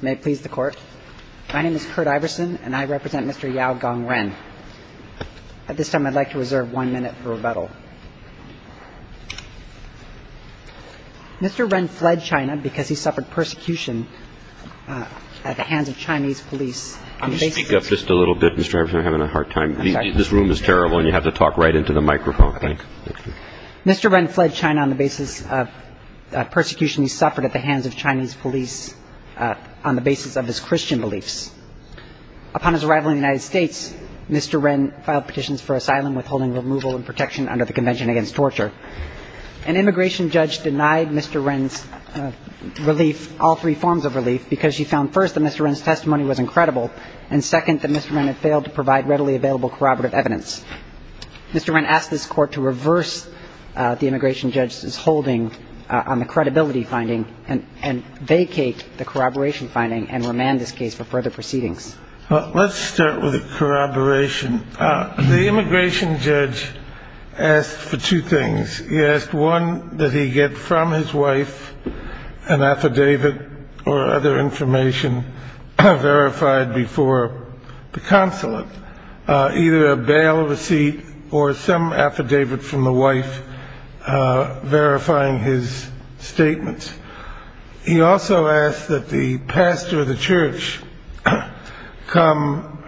May it please the court. My name is Kurt Iverson and I represent Mr. Yao Gong Ren. At this time, I'd like to reserve one minute for rebuttal. Mr. Ren fled China because he suffered persecution at the hands of Chinese police. Can you speak up just a little bit? Mr. Iverson, I'm having a hard time. This room is terrible and you have to talk right into the microphone. Mr. Ren fled China on the basis of persecution he suffered at the hands of Chinese police on the basis of his Christian beliefs. Upon his arrival in the United States, Mr. Ren filed petitions for asylum, withholding removal and protection under the Convention Against Torture. An immigration judge denied Mr. Ren's relief all three forms of relief because she found, first, that Mr. Ren's testimony was incredible, and second, that Mr. Ren had failed to provide readily available corroborative evidence. Mr. Ren asked this court to reverse the immigration judge's holding on the credibility finding and vacate the corroboration finding and remand this case for further proceedings. Let's start with corroboration. The immigration judge asked for two things. He asked, one, that he get from his wife an affidavit or other information verified before the consulate, either a bail receipt or some affidavit from the wife verifying his statements. He also asked that the pastor of the church come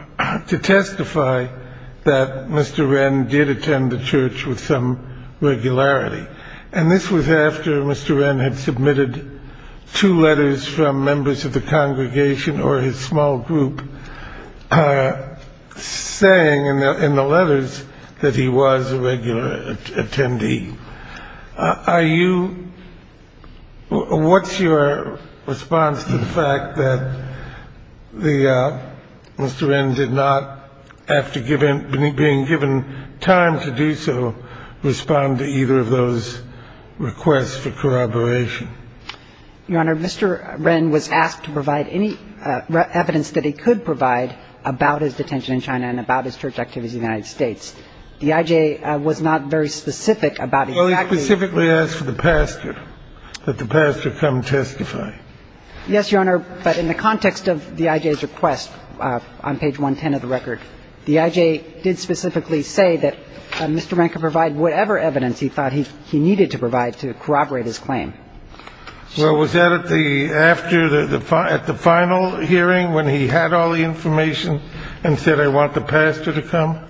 to testify that Mr. Ren did attend the church with some regularity. And this was after Mr. Ren had submitted two letters from members of the congregation or his small group saying in the letters that he was a regular attendee. Are you – what's your response to the fact that the – Mr. Ren did not, after being given time to do so, respond to either of those requests for corroboration? Your Honor, Mr. Ren was asked to provide any evidence that he could provide about his detention in China and about his church activities in the United States. The I.J. was not very specific about exactly – Well, he specifically asked for the pastor, that the pastor come testify. Yes, Your Honor, but in the context of the I.J.'s request on page 110 of the record, the I.J. did specifically say that Mr. Ren could provide whatever evidence he thought he needed to provide to corroborate his claim. Well, was that at the – after the – at the final hearing when he had all the information and said, I want the pastor to come?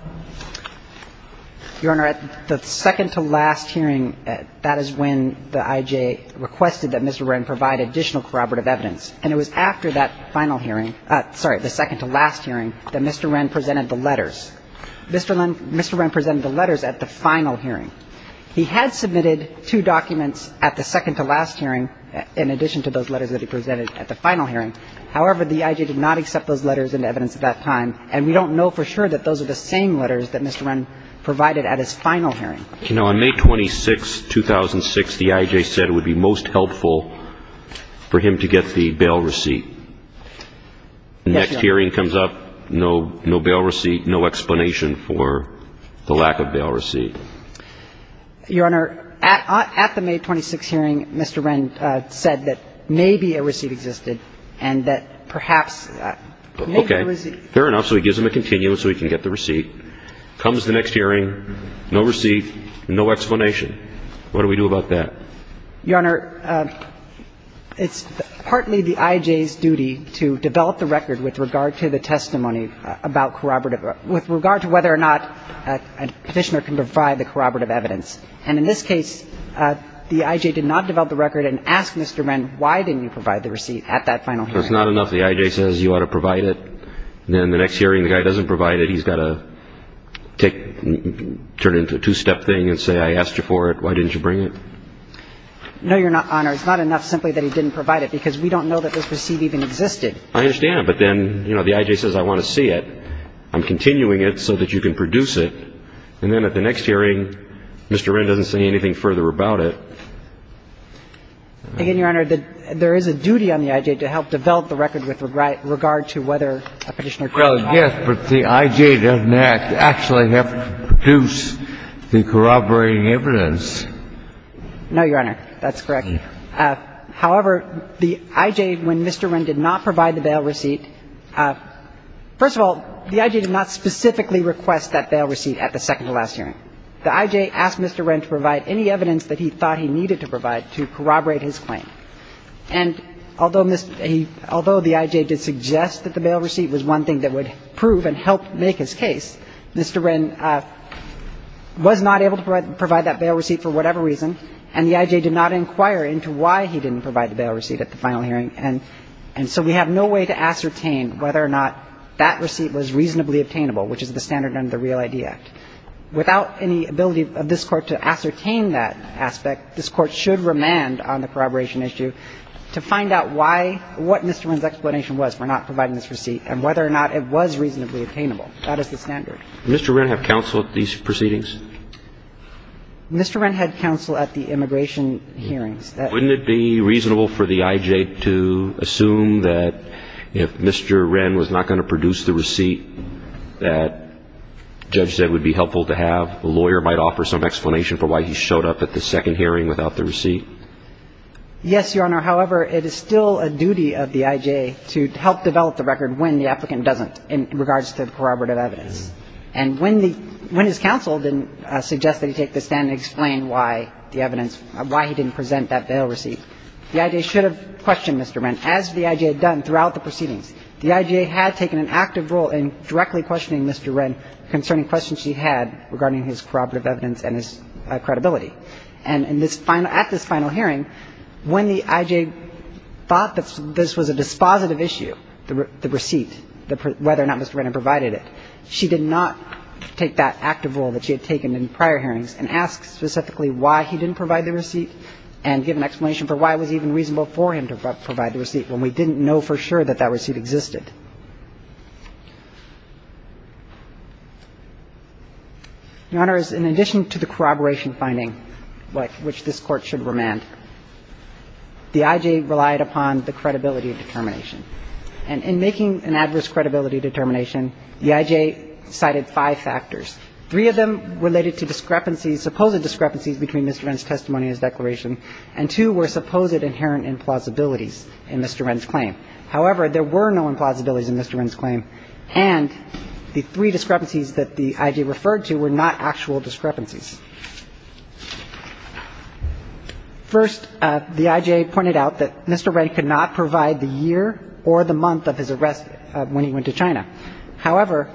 Your Honor, at the second to last hearing, that is when the I.J. requested that Mr. Ren provide additional corroborative evidence. And it was after that final hearing – sorry, the second to last hearing that Mr. Ren presented the letters. Mr. Ren presented the letters at the final hearing. He had submitted two documents at the second to last hearing in addition to those letters that he presented at the final hearing. However, the I.J. did not accept those letters into evidence at that time. And we don't know for sure that those are the same letters that Mr. Ren provided at his final hearing. You know, on May 26, 2006, the I.J. said it would be most helpful for him to get the bail receipt. Yes, Your Honor. And then comes up no – no bail receipt, no explanation for the lack of bail receipt. Your Honor, at the May 26 hearing, Mr. Ren said that maybe a receipt existed and that perhaps – maybe a receipt. Okay. Fair enough. So he gives him a continuum so he can get the receipt. Comes the next hearing, no receipt, no explanation. What do we do about that? Your Honor, it's partly the I.J.'s duty to develop the record with regard to the testimony about corroborative – with regard to whether or not a Petitioner can provide the corroborative evidence. And in this case, the I.J. did not develop the record and asked Mr. Ren, why didn't you provide the receipt at that final hearing? That's not enough. The I.J. says you ought to provide it. Then the next hearing, the guy doesn't provide it. He's got to take – turn it into a two-step thing and say, I asked you for it. Why didn't you bring it? No, Your Honor. It's not enough simply that he didn't provide it because we don't know that this receipt even existed. I understand. But then, you know, the I.J. says, I want to see it. I'm continuing it so that you can produce it. And then at the next hearing, Mr. Ren doesn't say anything further about it. Again, Your Honor, there is a duty on the I.J. to help develop the record with regard to whether a Petitioner can provide it. Well, yes, but the I.J. doesn't actually have to produce the corroborating evidence. No, Your Honor. That's correct. However, the I.J., when Mr. Ren did not provide the bail receipt, first of all, the I.J. did not specifically request that bail receipt at the second to last hearing. The I.J. asked Mr. Ren to provide any evidence that he thought he needed to provide to corroborate his claim. And although the I.J. did suggest that the bail receipt was one thing that would prove and help make his case, Mr. Ren was not able to provide that bail receipt for whatever reason, and the I.J. did not inquire into why he didn't provide the bail receipt at the final hearing. And so we have no way to ascertain whether or not that receipt was reasonably obtainable, which is the standard under the Real ID Act. Without any ability of this Court to ascertain that aspect, this Court should remand on the corroboration issue to find out why or what Mr. Ren's explanation was for not providing this receipt and whether or not it was reasonably obtainable. That is the standard. Did Mr. Ren have counsel at these proceedings? Mr. Ren had counsel at the immigration hearings. Wouldn't it be reasonable for the I.J. to assume that if Mr. Ren was not going to produce the receipt that Judge said would be helpful to have, the lawyer might offer some explanation for why he showed up at the second hearing without the receipt? Yes, Your Honor. However, it is still a duty of the I.J. to help develop the record when the applicant doesn't in regards to corroborative evidence. And when the – when his counsel didn't suggest that he take the stand and explain why the evidence – why he didn't present that bail receipt, the I.J. should have questioned Mr. Ren, as the I.J. had done throughout the proceedings. The I.J. had taken an active role in directly questioning Mr. Ren concerning questions she had regarding his corroborative evidence and his credibility. And in this final – at this final hearing, when the I.J. thought that this was a dispositive issue, the receipt, whether or not Mr. Ren had provided it, she did not take that active role that she had taken in prior hearings and ask specifically why he didn't provide the receipt and give an explanation for why it was even reasonable for him to provide the receipt when we didn't know for sure that that receipt existed. Your Honors, in addition to the corroboration finding, which this Court should remand, the I.J. relied upon the credibility determination. And in making an adverse credibility determination, the I.J. cited five factors. Three of them related to discrepancies, supposed discrepancies between Mr. Ren's testimony and his declaration, and two were supposed inherent implausibilities in Mr. Ren's claim. However, there were no implausibilities in Mr. Ren's claim, and the three discrepancies that the I.J. referred to were not actual discrepancies. First, the I.J. pointed out that Mr. Ren could not provide the year or the month of his arrest when he went to China. However,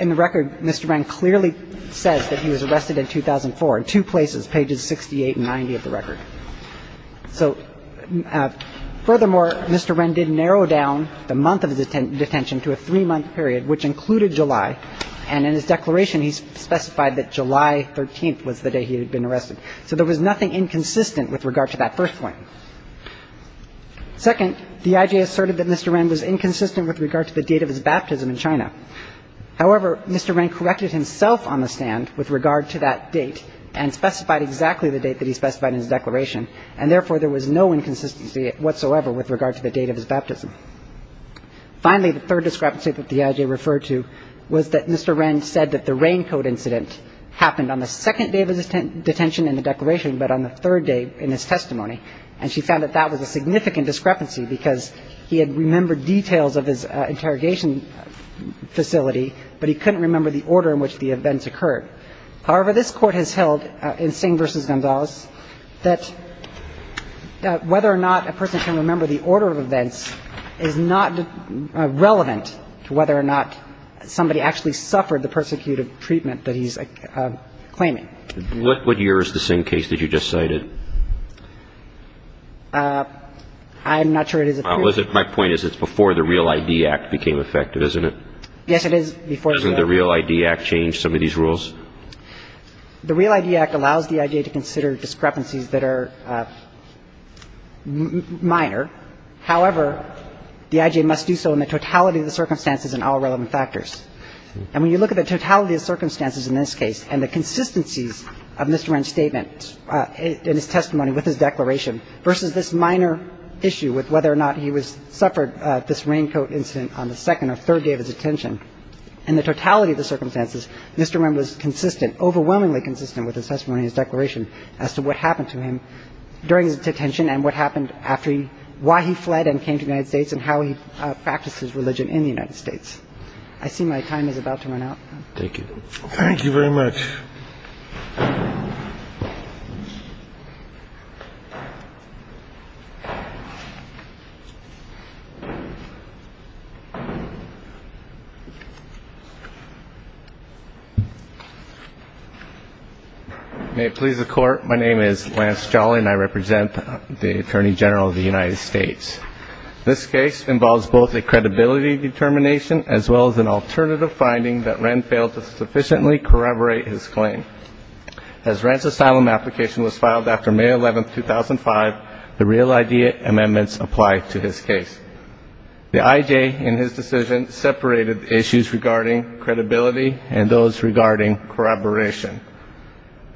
in the record, Mr. Ren clearly says that he was arrested in 2004, in two places, pages 68 and 90 of the record. So furthermore, Mr. Ren did narrow down the month of his detention to a three-month period, which included July. And in his declaration, he specified that July 13th was the day he had been arrested. So there was nothing inconsistent with regard to that first point. Second, the I.J. asserted that Mr. Ren was inconsistent with regard to the date of his baptism in China. However, Mr. Ren corrected himself on the stand with regard to that date and specified exactly the date that he specified in his declaration. And therefore, there was no inconsistency whatsoever with regard to the date of his baptism. Finally, the third discrepancy that the I.J. referred to was that Mr. Ren said that the raincoat incident happened on the second day of his detention in the declaration but on the third day in his testimony. And she found that that was a significant discrepancy because he had remembered details of his interrogation facility, but he couldn't remember the order in which the events occurred. However, this Court has held in Singh v. Gonzalez that whether or not a person can remember the order of events is not relevant to whether or not somebody actually suffered the persecutive treatment that he's claiming. What year is the Singh case that you just cited? I'm not sure it is a period. My point is it's before the Real ID Act became effective, isn't it? Yes, it is before the Real ID Act. Did the Real ID Act change some of these rules? The Real ID Act allows the I.J. to consider discrepancies that are minor. However, the I.J. must do so in the totality of the circumstances and all relevant factors. And when you look at the totality of circumstances in this case and the consistencies of Mr. Ren's statement in his testimony with his declaration versus this minor issue with whether or not he suffered this raincoat incident on the second or third day of his detention, in the totality of the circumstances, Mr. Ren was consistent, overwhelmingly consistent with his testimony and his declaration as to what happened to him during his detention and what happened after he why he fled and came to the United States and how he practiced his religion in the United States. I see my time is about to run out. Thank you. Thank you very much. May it please the Court, my name is Lance Jolly and I represent the Attorney General of the United States. This case involves both a credibility determination as well as an alternative finding that Ren failed to sufficiently corroborate his claim. As Ren's asylum application was filed after May 11, 2005, the real ID amendments applied to his case. The I.J. in his decision separated the issues regarding credibility and those regarding corroboration.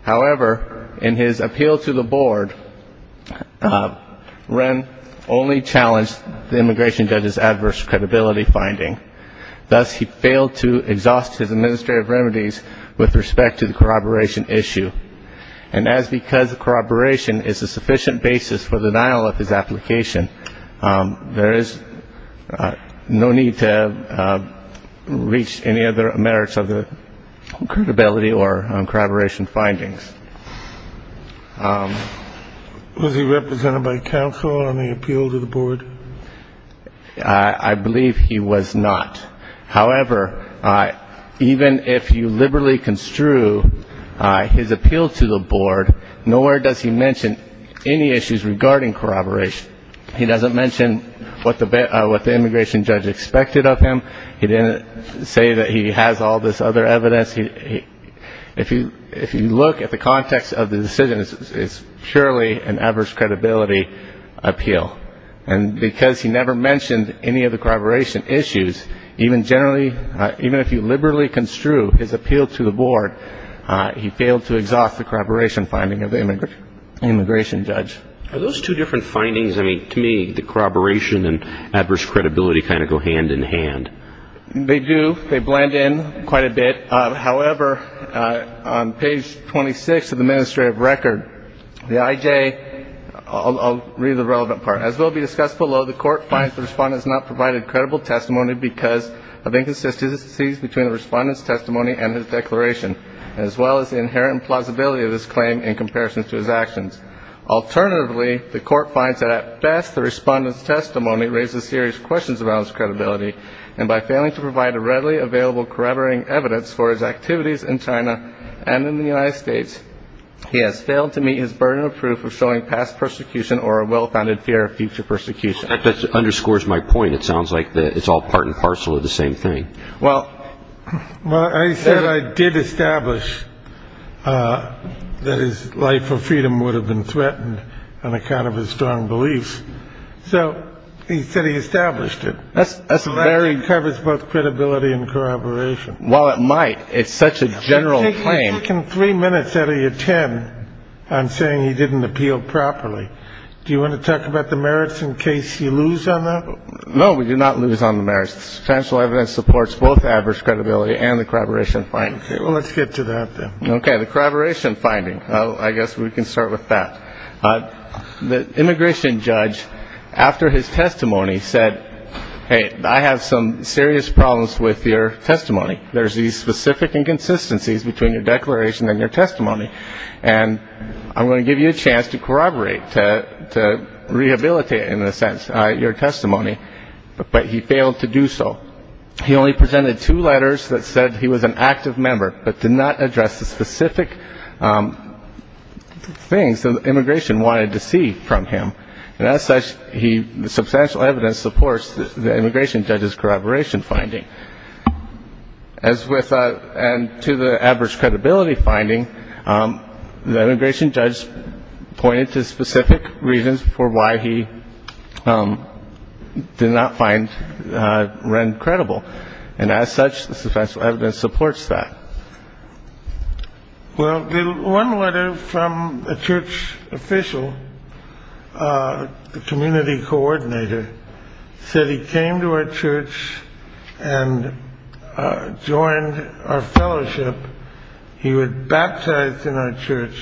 However, in his appeal to the board, Ren only challenged the immigration judge's adverse credibility finding, thus he failed to exhaust his administrative remedies with respect to the corroboration issue. And as because the corroboration is a sufficient basis for denial of his application, there is no need to reach any other merits of the credibility or corroboration findings. Was he represented by counsel on the appeal to the board? I believe he was not. However, even if you liberally construe his appeal to the board, nowhere does he mention any issues regarding corroboration. He doesn't mention what the immigration judge expected of him. He didn't say that he has all this other evidence. If you look at the context of the decision, it's purely an adverse credibility appeal. And because he never mentioned any of the corroboration issues, even if you liberally construe his appeal to the board, he failed to exhaust the corroboration finding of the immigration judge. Are those two different findings? I mean, to me, the corroboration and adverse credibility kind of go hand in hand. They do. They blend in quite a bit. However, on page 26 of the administrative record, the IJ, I'll read the relevant part. As will be discussed below, the court finds the respondent has not provided credible testimony because of inconsistencies between the respondent's testimony and his declaration, as well as the inherent plausibility of his claim in comparison to his actions. Alternatively, the court finds that at best the respondent's testimony raises serious questions about his credibility, and by failing to provide a readily available corroborating evidence for his activities in China and in the United States, he has failed to meet his burden of proof of showing past persecution or a well-founded fear of future persecution. That underscores my point. It sounds like it's all part and parcel of the same thing. Well, well, I said I did establish that his life for freedom would have been threatened on account of his strong beliefs. So he said he established it. That's very good. It covers both credibility and corroboration. Well, it might. It's such a general claim. Three minutes out of your ten. I'm saying he didn't appeal properly. Do you want to talk about the merits in case you lose on that? No, we do not lose on the merits. Special evidence supports both average credibility and the corroboration. Well, let's get to that. OK, the corroboration finding. I guess we can start with that. The immigration judge, after his testimony, said, hey, I have some serious problems with your testimony. There's these specific inconsistencies between your declaration and your testimony. And I'm going to give you a chance to corroborate, to rehabilitate in a sense, your testimony. But he failed to do so. He only presented two letters that said he was an active member, but did not address the specific things that immigration wanted to see from him. And as such, the substantial evidence supports the immigration judge's corroboration finding. As with and to the average credibility finding, the immigration judge pointed to specific reasons for why he did not find Wren credible. And as such, the substantial evidence supports that. Well, one letter from a church official, the community coordinator, said he came to our church and joined our fellowship. He was baptized in our church.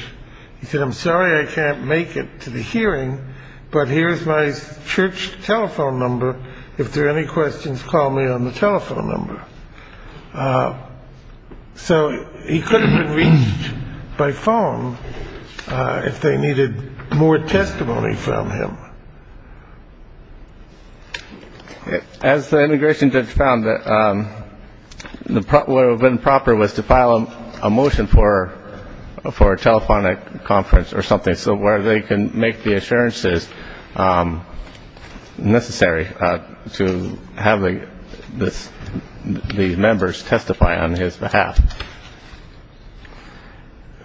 He said, I'm sorry I can't make it to the hearing, but here's my church telephone number. If there are any questions, call me on the telephone number. So he could have been reached by phone if they needed more testimony from him. As the immigration judge found, what would have been proper was to file a motion for a telephonic conference or something so where they can make the assurances necessary to have the members testify on his behalf.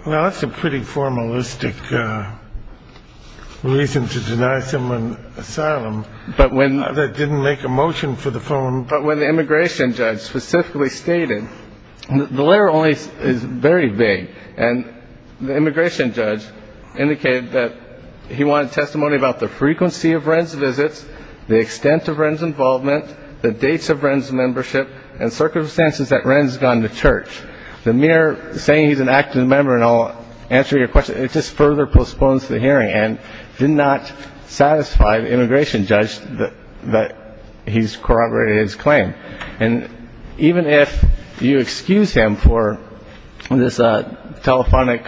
Well, that's a pretty formalistic reason to deny someone asylum that didn't make a motion for the phone. But when the immigration judge specifically stated, the letter only is very vague. And the immigration judge indicated that he wanted testimony about the frequency of Wren's visits, the extent of Wren's involvement, the dates of Wren's membership, and circumstances that Wren's gone to church. The mere saying he's an active member, and I'll answer your question, it just further postpones the hearing and did not satisfy the immigration judge that he's corroborated his claim. And even if you excuse him for this telephonic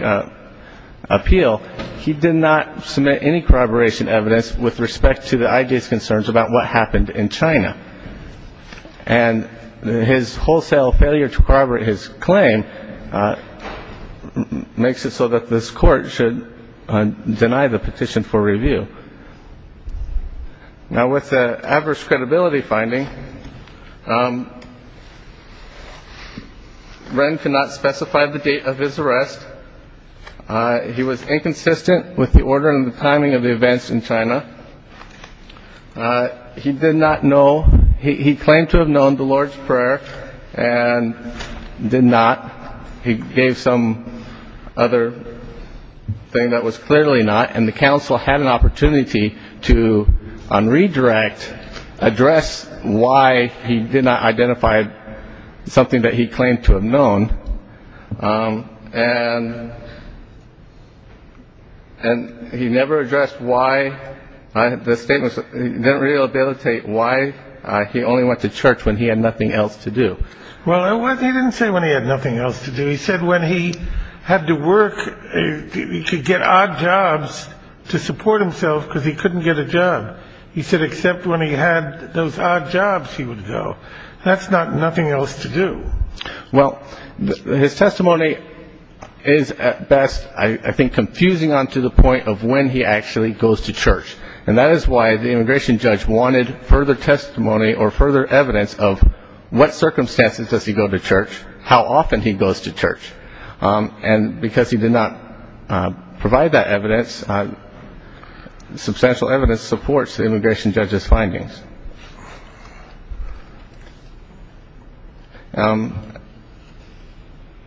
appeal, he did not submit any corroboration evidence with respect to the IDA's concerns about what happened in China. And his wholesale failure to corroborate his claim makes it so that this court should deny the petition for review. Now, with the average credibility finding, Wren could not specify the date of his arrest. He was inconsistent with the order and the timing of the events in China. He did not know. He claimed to have known the Lord's Prayer and did not. He gave some other thing that was clearly not. And the council had an opportunity to, on redirect, address why he did not identify something that he claimed to have known. And he never addressed why the statement didn't rehabilitate why he only went to church when he had nothing else to do. Well, he didn't say when he had nothing else to do. He said when he had to work, he could get odd jobs to support himself because he couldn't get a job. He said except when he had those odd jobs, he would go. That's not nothing else to do. Well, his testimony is at best, I think, confusing on to the point of when he actually goes to church. And that is why the immigration judge wanted further testimony or further evidence of what circumstances does he go to church, how often he goes to church. And because he did not provide that evidence, substantial evidence supports the immigration judge's findings.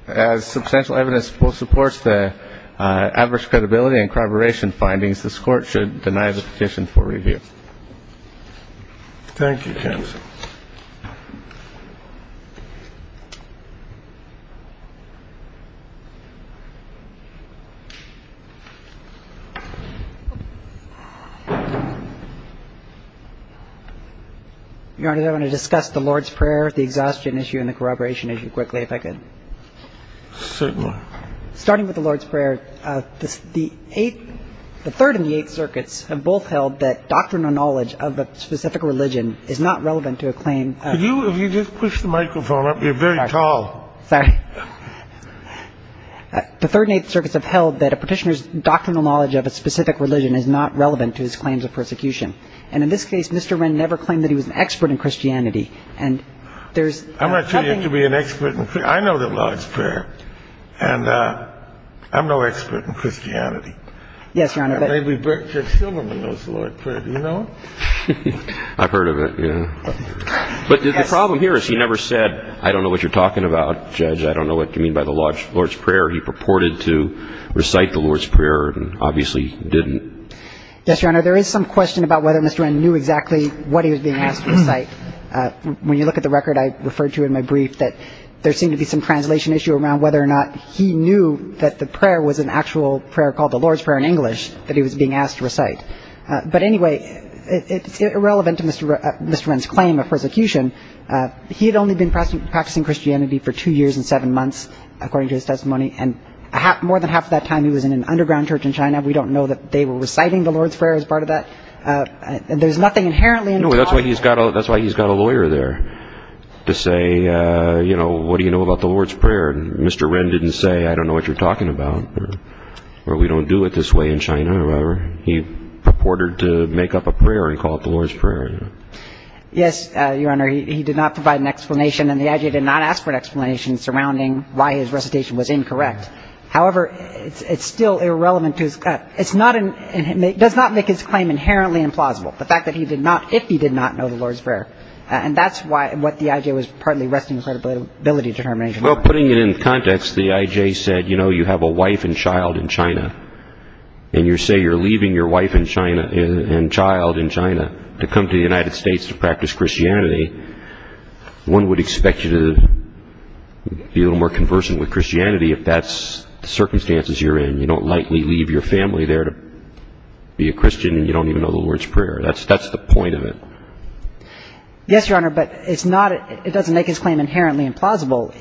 As substantial evidence supports the adverse credibility and corroboration findings, this Court should deny the petition for review. Thank you, counsel. Your Honor, I want to discuss the Lord's Prayer, the exhaustion issue and the corroboration issue quickly, if I could. Certainly. Starting with the Lord's Prayer, the Eighth, the Third and the Eighth Circuits have both held that doctrinal knowledge of a specific religion is not relevant to a claim. Could you, if you just push the microphone up, you're very tall. Sorry. The Third and Eighth Circuits have held that a petitioner's doctrinal knowledge of a specific religion is not relevant to his claims of persecution. And in this case, Mr. Wren never claimed that he was an expert in Christianity. And there's nothing to be an expert in. I know the Lord's Prayer, and I'm no expert in Christianity. Yes, Your Honor. Maybe Bert J. Silverman knows the Lord's Prayer. Do you know him? I've heard of it, yeah. But the problem here is he never said, I don't know what you're talking about, Judge. I don't know what you mean by the Lord's Prayer. He purported to recite the Lord's Prayer and obviously didn't. Yes, Your Honor. There is some question about whether Mr. Wren knew exactly what he was being asked to recite. When you look at the record I referred to in my brief, that there seemed to be some translation issue around whether or not he knew that the prayer was an actual prayer called the Lord's Prayer in English that he was being asked to recite. But anyway, it's irrelevant to Mr. Wren's claim of persecution. He had only been practicing Christianity for two years and seven months, according to his testimony, and more than half of that time he was in an underground church in China. We don't know that they were reciting the Lord's Prayer as part of that. There's nothing inherently involved. That's why he's got a lawyer there to say, you know, what do you know about the Lord's Prayer? Mr. Wren didn't say, I don't know what you're talking about, or we don't do it this way in China. He purported to make up a prayer and call it the Lord's Prayer. Yes, Your Honor. He did not provide an explanation, and the I.J. did not ask for an explanation surrounding why his recitation was incorrect. However, it's still irrelevant to his claim. It does not make his claim inherently implausible, the fact that he did not, if he did not know the Lord's Prayer. And that's what the I.J. was partly requesting credibility determination for. Well, putting it in context, the I.J. said, you know, you have a wife and child in China, and you say you're leaving your wife and child in China to come to the United States to practice Christianity. One would expect you to be a little more conversant with Christianity if that's the circumstances you're in. You don't likely leave your family there to be a Christian, and you don't even know the Lord's Prayer. That's the point of it. Yes, Your Honor, but it doesn't make his claim inherently implausible.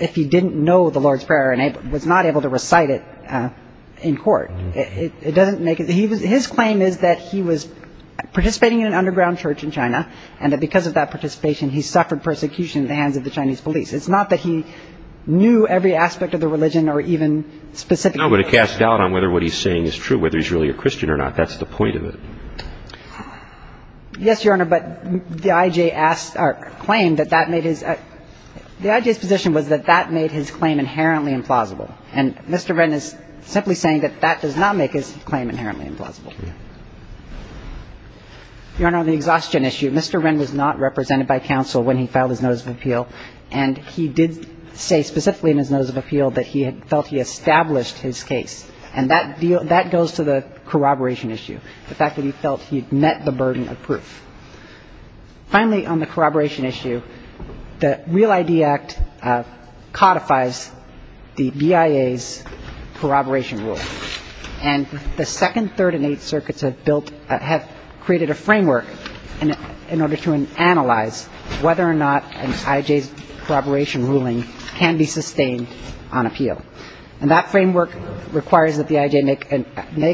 If he didn't know the Lord's Prayer and was not able to recite it in court, it doesn't make it. His claim is that he was participating in an underground church in China, and that because of that participation, he suffered persecution at the hands of the Chinese police. It's not that he knew every aspect of the religion or even specifically. No, but it casts doubt on whether what he's saying is true, whether he's really a Christian or not. That's the point of it. Yes, Your Honor, but the I.J. asked or claimed that that made his – the I.J.'s position was that that made his claim inherently implausible, and Mr. Wren is simply saying that that does not make his claim inherently implausible. Your Honor, on the exhaustion issue, Mr. Wren was not represented by counsel when he filed his notice of appeal, and he did say specifically in his notice of appeal that he felt he established his case, and that goes to the corroboration issue, the fact that he felt he'd met the burden of proof. Finally, on the corroboration issue, the REAL-ID Act codifies the BIA's corroboration rule, and the Second, Third, and Eighth Circuits have built – have created a framework in order to analyze whether or not an I.J.'s corroboration ruling can be sustained on appeal. And that framework requires that the I.J. make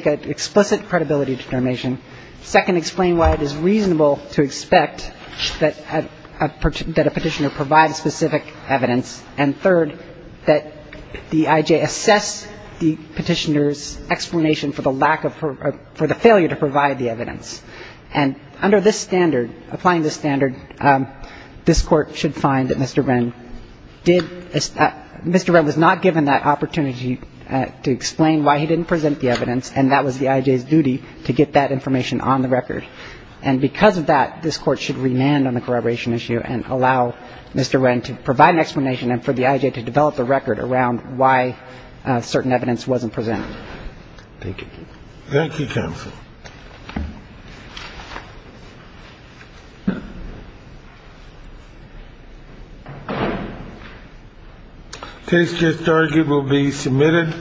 an explicit credibility determination, second, explain why it is reasonable to expect that a Petitioner provide specific evidence, and third, that the I.J. assess the Petitioner's explanation for the lack of – for the failure to provide the evidence. And under this standard, applying this standard, this Court should find that Mr. Wren did – Mr. Wren was not given that opportunity to explain why he didn't present the evidence, and that was the I.J.'s duty to get that information on the record. And because of that, this Court should remand on the corroboration issue and allow Mr. Wren to provide an explanation and for the I.J. to develop a record around why certain evidence wasn't presented. Thank you. Thank you, Counsel. Case just argued will be submitted.